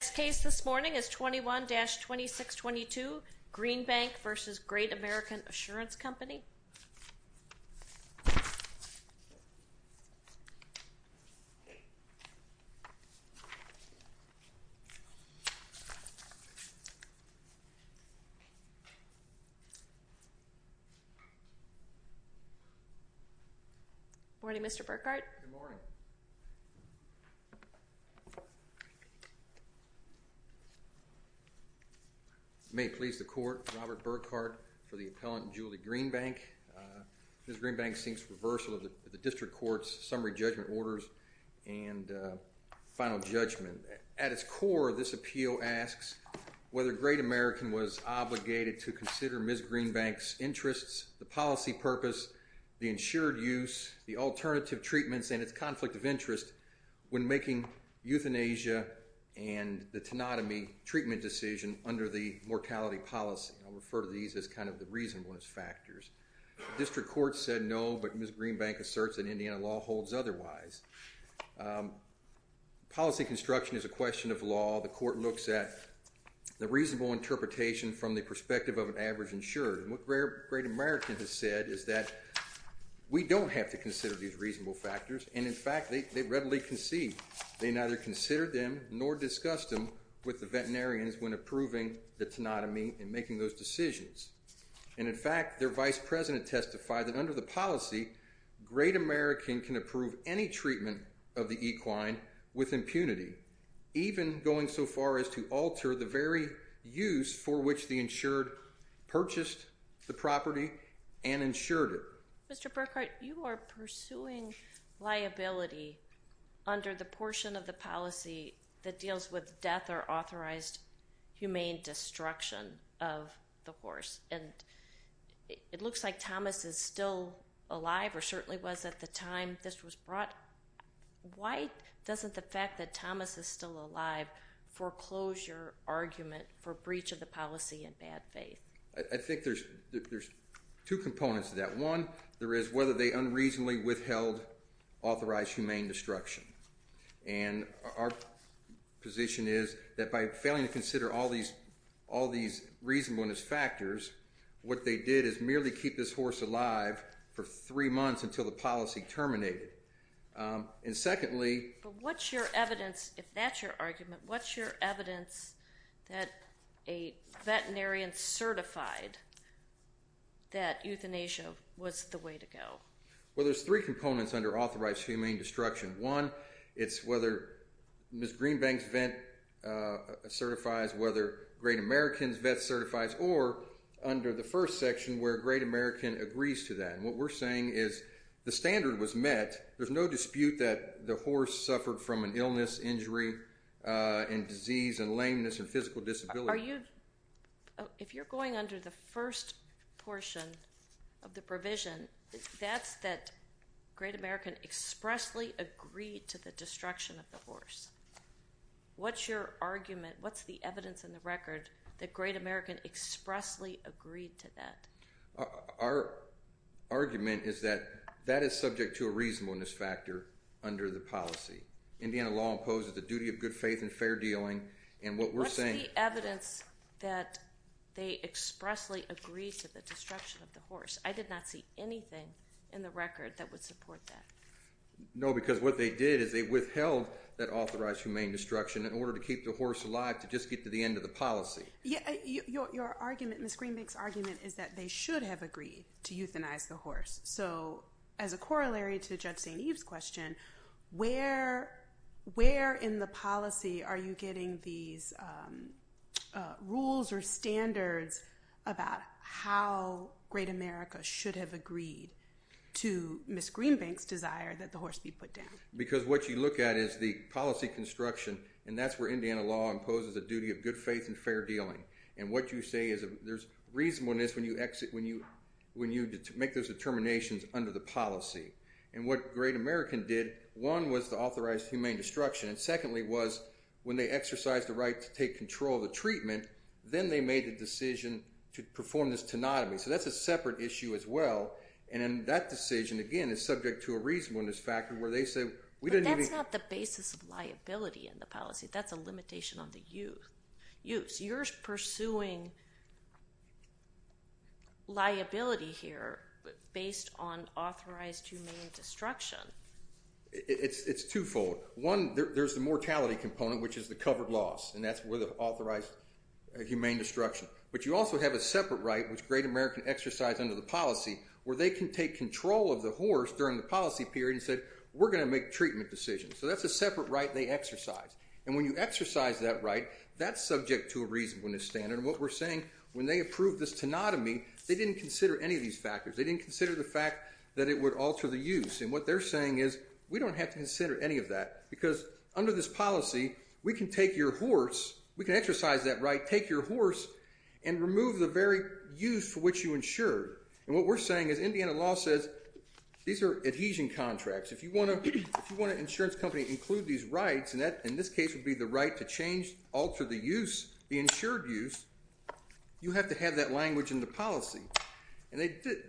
The next case this morning is 21-2622, Greenbank v. Great American Assurance Company. Good morning Mr. Burkhart. Good morning. May it please the court, Robert Burkhart for the appellant Julie Greenbank. Ms. Greenbank seeks reversal of the district court's summary judgment orders and final judgment. At its core, this appeal asks whether Great American was obligated to consider Ms. Greenbank's interests, the policy purpose, the insured use, the alternative treatments, and its conflict of interest when making euthanasia and the tenotomy treatment decision under the mortality policy. I'll refer to these as kind of the reasonableness factors. District court said no, but Ms. Greenbank asserts that Indiana law holds otherwise. Policy construction is a question of law. The court looks at the reasonable interpretation from the perspective of an average insured. And what Great American has said is that we don't have to consider these reasonable factors. And in fact, they readily concede. They neither consider them nor discuss them with the veterinarians when approving the tenotomy and making those decisions. And in fact, their vice president testified that under the policy, Great American can approve any treatment of the equine with impunity, even going so far as to alter the very use for which the insured purchased the property and insured it. Mr. Burkhart, you are pursuing liability under the portion of the policy that deals with death or authorized humane destruction of the horse. And it looks like Thomas is still alive or certainly was at the time this was brought. Why doesn't the fact that Thomas is still alive foreclose your argument for breach of the policy in bad faith? I think there's two components to that. One, there is whether they unreasonably withheld authorized humane destruction. And our position is that by failing to consider all these reasonableness factors, what they did is merely keep this horse alive for three months until the policy terminated. And secondly... But what's your evidence, if that's your argument, what's your evidence that a veterinarian certified that euthanasia was the way to go? Well, there's three components under authorized humane destruction. One, it's whether Ms. Greenbank's vet certifies, whether Great American's vet certifies, or under the first section where Great American agrees to that. And what we're saying is the standard was met. There's no dispute that the horse suffered from an illness, injury, and disease, and lameness, and physical disability. If you're going under the first portion of the provision, that's that Great American expressly agreed to the destruction of the horse. What's your argument? What's the evidence in the record that Great American expressly agreed to that? Our argument is that that is subject to a reasonableness factor under the policy. Indiana law imposes the duty of good faith and fair dealing, and what we're saying... What's the evidence that they expressly agreed to the destruction of the horse? I did not see anything in the record that would support that. No, because what they did is they withheld that authorized humane destruction in order to keep the horse alive to just get to the end of the policy. Your argument, Ms. Greenbank's argument, is that they should have agreed to euthanize the horse. So as a corollary to Judge St. Eve's question, where in the policy are you getting these rules or standards about how Great America should have agreed to Ms. Greenbank's desire that the horse be put down? Because what you look at is the policy construction, and that's where Indiana law imposes the duty of good faith and fair dealing. And what you say is there's reasonableness when you make those determinations under the policy. And what Great American did, one, was to authorize humane destruction, and secondly was when they exercised the right to take control of the treatment, then they made the decision to perform this tenotomy. So that's a separate issue as well, and that decision, again, is subject to a reasonableness factor where they say... But that's not the basis of liability in the policy. That's a limitation on the use. You're pursuing liability here based on authorized humane destruction. It's twofold. One, there's the mortality component, which is the covered loss, and that's where the authorized humane destruction. But you also have a separate right, which Great American exercised under the policy, where they can take control of the horse during the policy period and said we're going to make treatment decisions. So that's a separate right they exercised. And when you exercise that right, that's subject to a reasonableness standard. And what we're saying, when they approved this tenotomy, they didn't consider any of these factors. They didn't consider the fact that it would alter the use. And what they're saying is we don't have to consider any of that because under this policy we can take your horse, we can exercise that right, take your horse and remove the very use for which you insured. And what we're saying is Indiana law says these are adhesion contracts. If you want an insurance company to include these rights, and that in this case would be the right to change, alter the use, the insured use, you have to have that language in the policy. And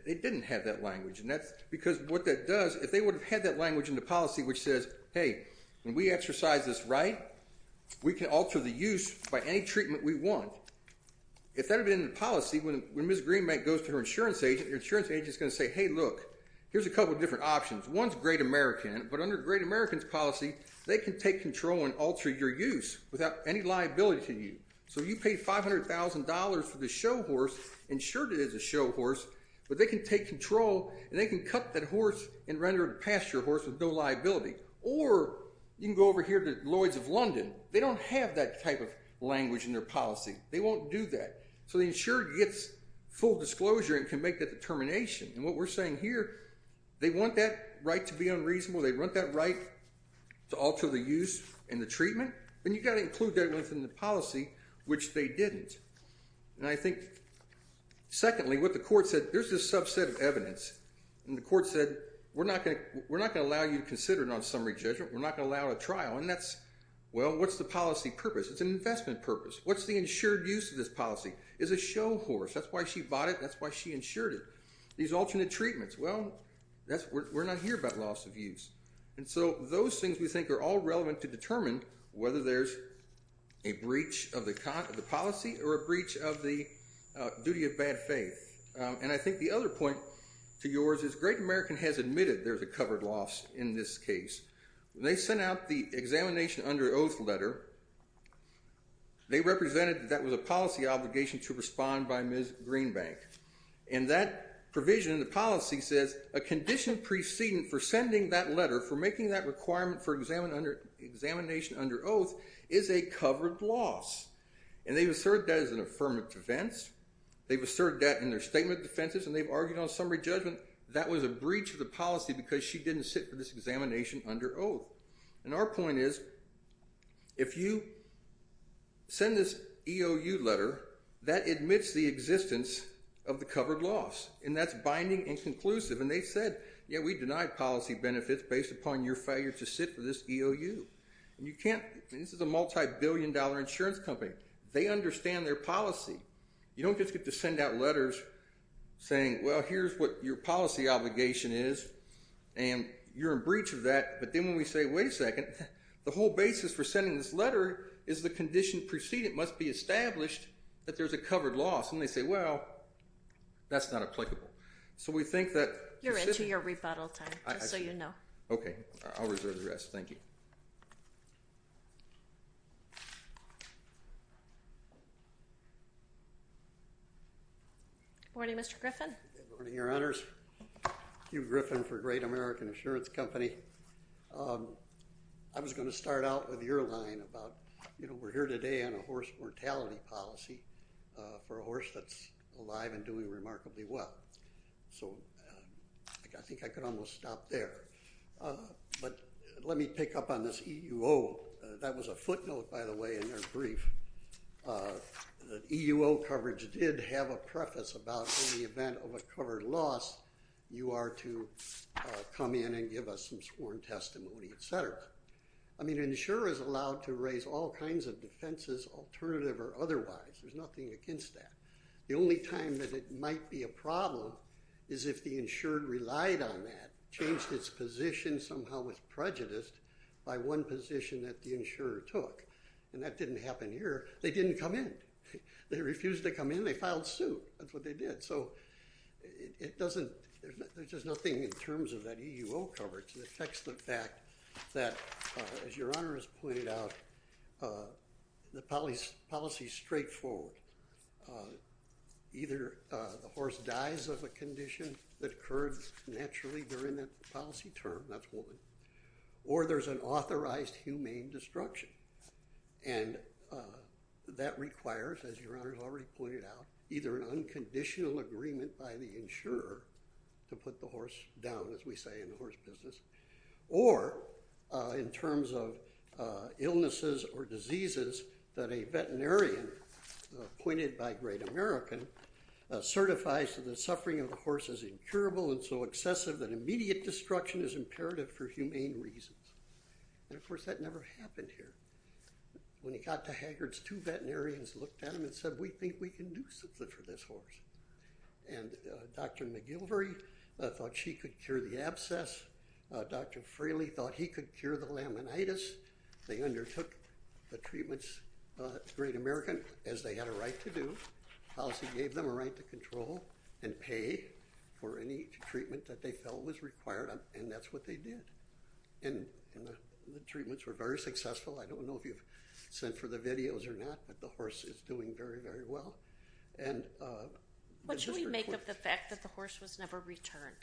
they didn't have that language. And that's because what that does, if they would have had that language in the policy which says, hey, when we exercise this right, we can alter the use by any treatment we want, if that would have been in the policy, when Ms. Greenbank goes to her insurance agent, your insurance agent is going to say, hey, look, here's a couple of different options. One's Great American, but under Great American's policy, they can take control and alter your use without any liability to you. So you paid $500,000 for this show horse, insured it as a show horse, but they can take control and they can cut that horse and render it a pasture horse with no liability. Or you can go over here to Lloyd's of London. They don't have that type of language in their policy. They won't do that. So the insured gets full disclosure and can make that determination. And what we're saying here, they want that right to be unreasonable, they want that right to alter the use and the treatment, then you've got to include that within the policy, which they didn't. And I think, secondly, what the court said, there's this subset of evidence, and the court said we're not going to allow you to consider it on summary judgment, we're not going to allow it at trial, and that's, well, what's the policy purpose? It's an investment purpose. What's the insured use of this policy? It's a show horse. That's why she bought it, that's why she insured it. These alternate treatments, well, we're not here about loss of use. And so those things we think are all relevant to determine whether there's a breach of the policy or a breach of the duty of bad faith. And I think the other point to yours is Great American has admitted there's a covered loss in this case. When they sent out the examination under oath letter, they represented that that was a policy obligation to respond by Ms. Greenbank. And that provision in the policy says a condition precedent for sending that letter, for making that requirement for examination under oath, is a covered loss. And they've asserted that as an affirmative defense. They've asserted that in their statement of defenses, and they've argued on summary judgment that was a breach of the policy because she didn't sit for this examination under oath. And our point is, if you send this EOU letter, that admits the existence of the covered loss. And that's binding and conclusive. And they said, yeah, we deny policy benefits based upon your failure to sit for this EOU. And you can't, this is a multi-billion dollar insurance company. They understand their policy. You don't just get to send out letters saying, well, here's what your policy obligation is, and you're in breach of that. But then when we say, wait a second, the whole basis for sending this letter is the condition precedent must be established that there's a covered loss. And they say, well, that's not applicable. So we think that. You're into your rebuttal time, just so you know. Okay, I'll reserve the rest. Thank you. Good morning, Mr. Griffin. Good morning, Your Honors. Hugh Griffin for Great American Insurance Company. I was going to start out with your line about, you know, we're here today on a horse mortality policy for a horse that's alive and doing remarkably well. So I think I could almost stop there. But let me pick up on this EUO. That was a footnote, by the way, in your brief. The EUO coverage did have a preface about in the event of a covered loss, you are to come in and give us some sworn testimony, et cetera. I mean, an insurer is allowed to raise all kinds of defenses, alternative or otherwise. There's nothing against that. The only time that it might be a problem is if the insured relied on that, changed its position somehow with prejudice by one position that the insurer took. And that didn't happen here. They didn't come in. They refused to come in. They filed suit. That's what they did. So it doesn't – there's just nothing in terms of that EUO coverage that affects the fact that, as Your Honor has pointed out, the policy is straightforward. Either the horse dies of a condition that occurred naturally during that policy term, that's woman, or there's an authorized humane destruction. And that requires, as Your Honor has already pointed out, either an unconditional agreement by the insurer to put the horse down, as we say in the horse business, or in terms of illnesses or diseases that a veterinarian appointed by Great American certifies that the suffering of the horse is incurable and so excessive that immediate destruction is imperative for humane reasons. And, of course, that never happened here. When he got to Haggard's, two veterinarians looked at him and said, We think we can do something for this horse. And Dr. McGilvery thought she could cure the abscess. Dr. Frehley thought he could cure the laminitis. They undertook the treatments, Great American, as they had a right to do. The policy gave them a right to control and pay for any treatment that they felt was required, and that's what they did. And the treatments were very successful. I don't know if you've sent for the videos or not, but the horse is doing very, very well. What should we make of the fact that the horse was never returned?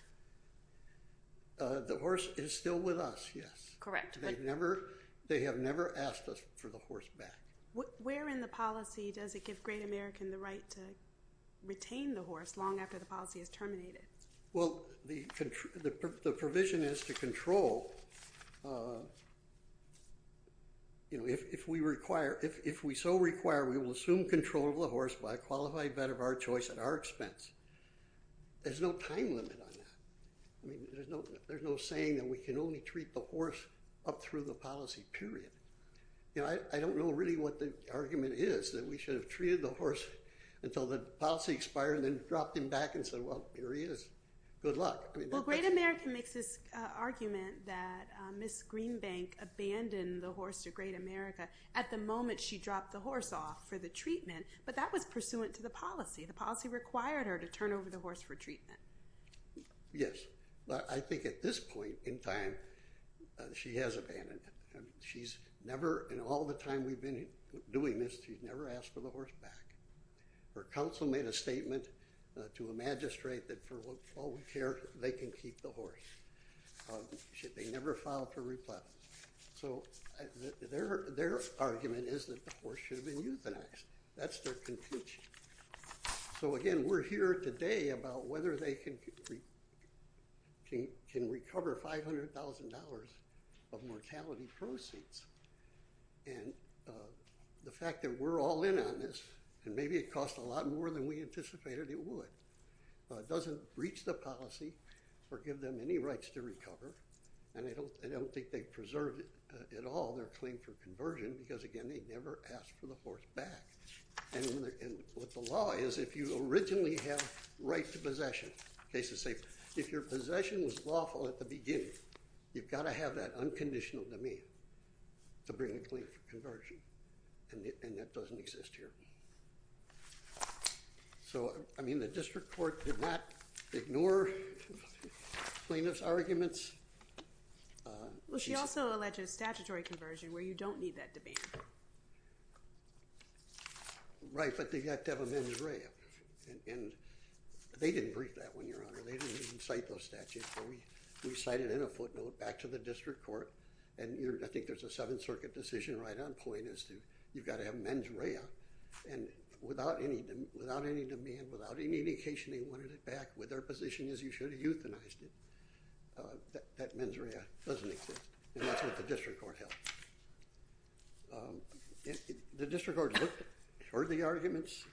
The horse is still with us, yes. Correct. They have never asked us for the horse back. Where in the policy does it give Great American the right to retain the horse long after the policy is terminated? Well, the provision is to control. If we so require, we will assume control of the horse by a qualified vet of our choice at our expense. There's no time limit on that. There's no saying that we can only treat the horse up through the policy, period. I don't know really what the argument is, that we should have treated the horse until the policy expired and then dropped him back and said, well, here he is. Good luck. Well, Great American makes this argument that Ms. Greenbank abandoned the horse to Great America at the moment she dropped the horse off for the treatment, but that was pursuant to the policy. The policy required her to turn over the horse for treatment. Yes, but I think at this point in time, she has abandoned it. She's never, in all the time we've been doing this, she's never asked for the horse back. Her counsel made a statement to a magistrate that for all we care, they can keep the horse. They never filed for replacement. So their argument is that the horse should have been euthanized. That's their conclusion. So, again, we're here today about whether they can recover $500,000 of mortality proceeds. And the fact that we're all in on this, and maybe it costs a lot more than we anticipated it would, doesn't breach the policy or give them any rights to recover, and I don't think they preserved it at all, their claim for conversion, because, again, they never asked for the horse back. And what the law is, if you originally have right to possession, cases say, if your possession was lawful at the beginning, you've got to have that unconditional demand to bring a claim for conversion, and that doesn't exist here. So, I mean, the district court did not ignore plaintiff's arguments. Well, she also alleged a statutory conversion where you don't need that demand. Right, but they've got to have a mens rea. And they didn't brief that one, Your Honor. They didn't cite those statutes. We cited it in a footnote back to the district court, and I think there's a Seventh Circuit decision right on point as to you've got to have mens rea. And without any demand, without any indication they wanted it back, what their position is you should have euthanized it. That mens rea doesn't exist, and that's what the district court held. The district court looked, heard the arguments,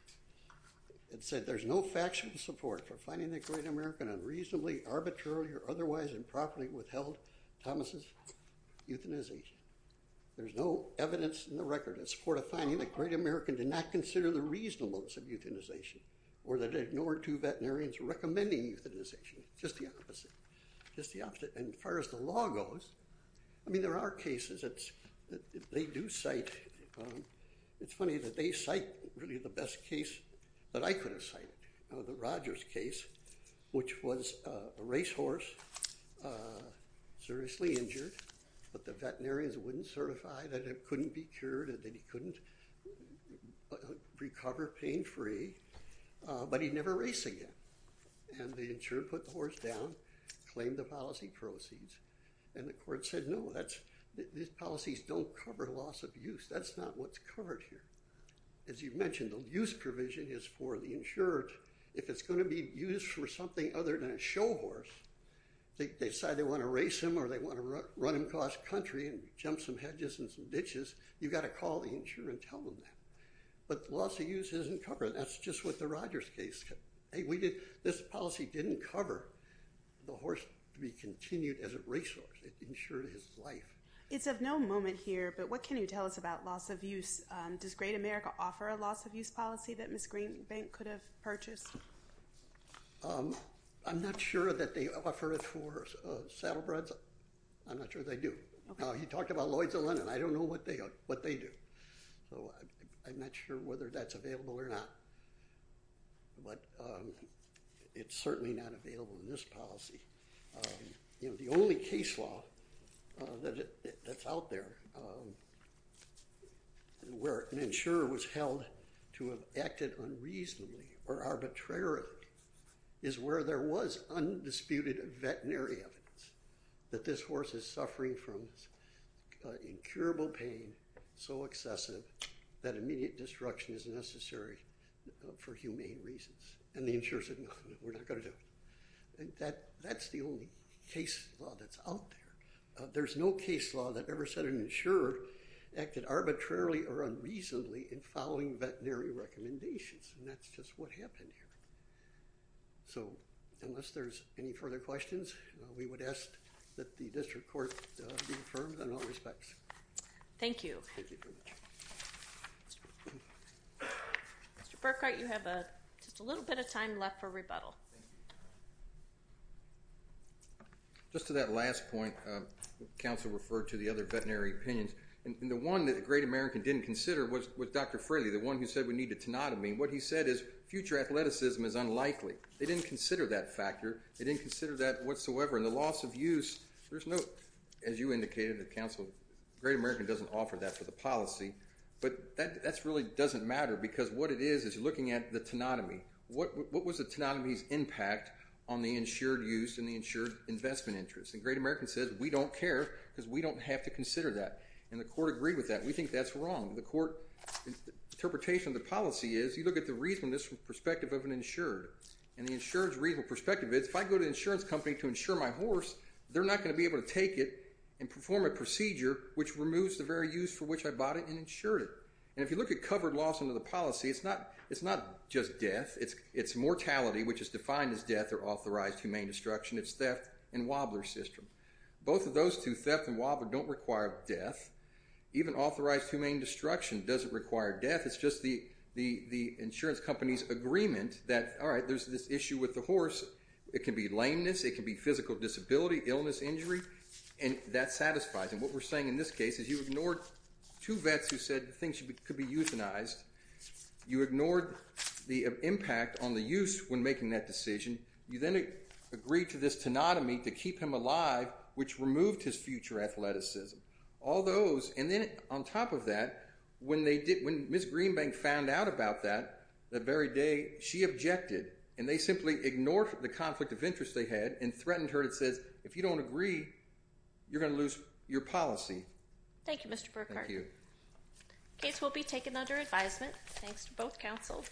and said there's no factual support for finding that Great American unreasonably, arbitrarily, or otherwise improperly withheld Thomas' euthanization. There's no evidence in the record in support of finding that Great American did not consider the reasonableness of euthanization or that ignored two veterinarians recommending euthanization, just the opposite, just the opposite. And as far as the law goes, I mean, there are cases that they do cite. It's funny that they cite really the best case that I could have cited, the Rogers case, which was a racehorse seriously injured, but the veterinarians wouldn't certify that it couldn't be cured, that he couldn't recover pain-free, but he'd never race again. And the insurer put the horse down, claimed the policy proceeds, and the court said no, these policies don't cover loss of use. That's not what's covered here. As you mentioned, the use provision is for the insurer. If it's going to be used for something other than a show horse, they decide they want to race him or they want to run him across country and jump some hedges and some ditches, you've got to call the insurer and tell them that. But loss of use isn't covered. That's just with the Rogers case. Hey, this policy didn't cover the horse to be continued as a racehorse. It insured his life. It's of no moment here, but what can you tell us about loss of use? Does Great America offer a loss of use policy that Ms. Greenbank could have purchased? I'm not sure that they offer it for saddlebreds. I'm not sure they do. He talked about Lloyd's and Lennon. I don't know what they do. So I'm not sure whether that's available or not. But it's certainly not available in this policy. The only case law that's out there where an insurer was held to have acted unreasonably or arbitrarily is where there was undisputed veterinary evidence that this horse is suffering from incurable pain so excessive that immediate destruction is necessary for humane reasons. And the insurer said, no, we're not going to do it. That's the only case law that's out there. There's no case law that ever said an insurer acted arbitrarily or unreasonably in following veterinary recommendations. And that's just what happened here. So unless there's any further questions, we would ask that the district court be affirmed in all respects. Mr. Burkart, you have just a little bit of time left for rebuttal. Just to that last point, counsel referred to the other veterinary opinions. And the one that the Great American didn't consider was Dr. Fraley, the one who said we need a tenotomy. What he said is future athleticism is unlikely. They didn't consider that factor. They didn't consider that whatsoever. And the loss of use, there's no, as you indicated, counsel, Great American doesn't offer that for the policy. But that really doesn't matter because what it is is looking at the tenotomy. What was the tenotomy's impact on the insured use and the insured investment interest? And Great American says we don't care because we don't have to consider that. And the court agreed with that. We think that's wrong. The court's interpretation of the policy is you look at the reasonableness from the perspective of an insured. And the insured's reasonable perspective is if I go to an insurance company to insure my horse, they're not going to be able to take it and perform a procedure which removes the very use for which I bought it and insured it. And if you look at covered loss under the policy, it's not just death. It's mortality, which is defined as death or authorized humane destruction. It's theft and wobbler system. Both of those two, theft and wobbler, don't require death. Even authorized humane destruction doesn't require death. It's just the insurance company's agreement that, all right, there's this issue with the horse. It can be lameness. It can be physical disability, illness, injury. And that satisfies. And what we're saying in this case is you ignored two vets who said things could be euthanized. You ignored the impact on the use when making that decision. You then agreed to this tenotomy to keep him alive, which removed his future athleticism. All those, and then on top of that, when Ms. Greenbank found out about that, that very day, she objected. And they simply ignored the conflict of interest they had and threatened her and said, if you don't agree, you're going to lose your policy. Thank you, Mr. Burkhart. Thank you. This case will be taken under advisement, thanks to both counsels.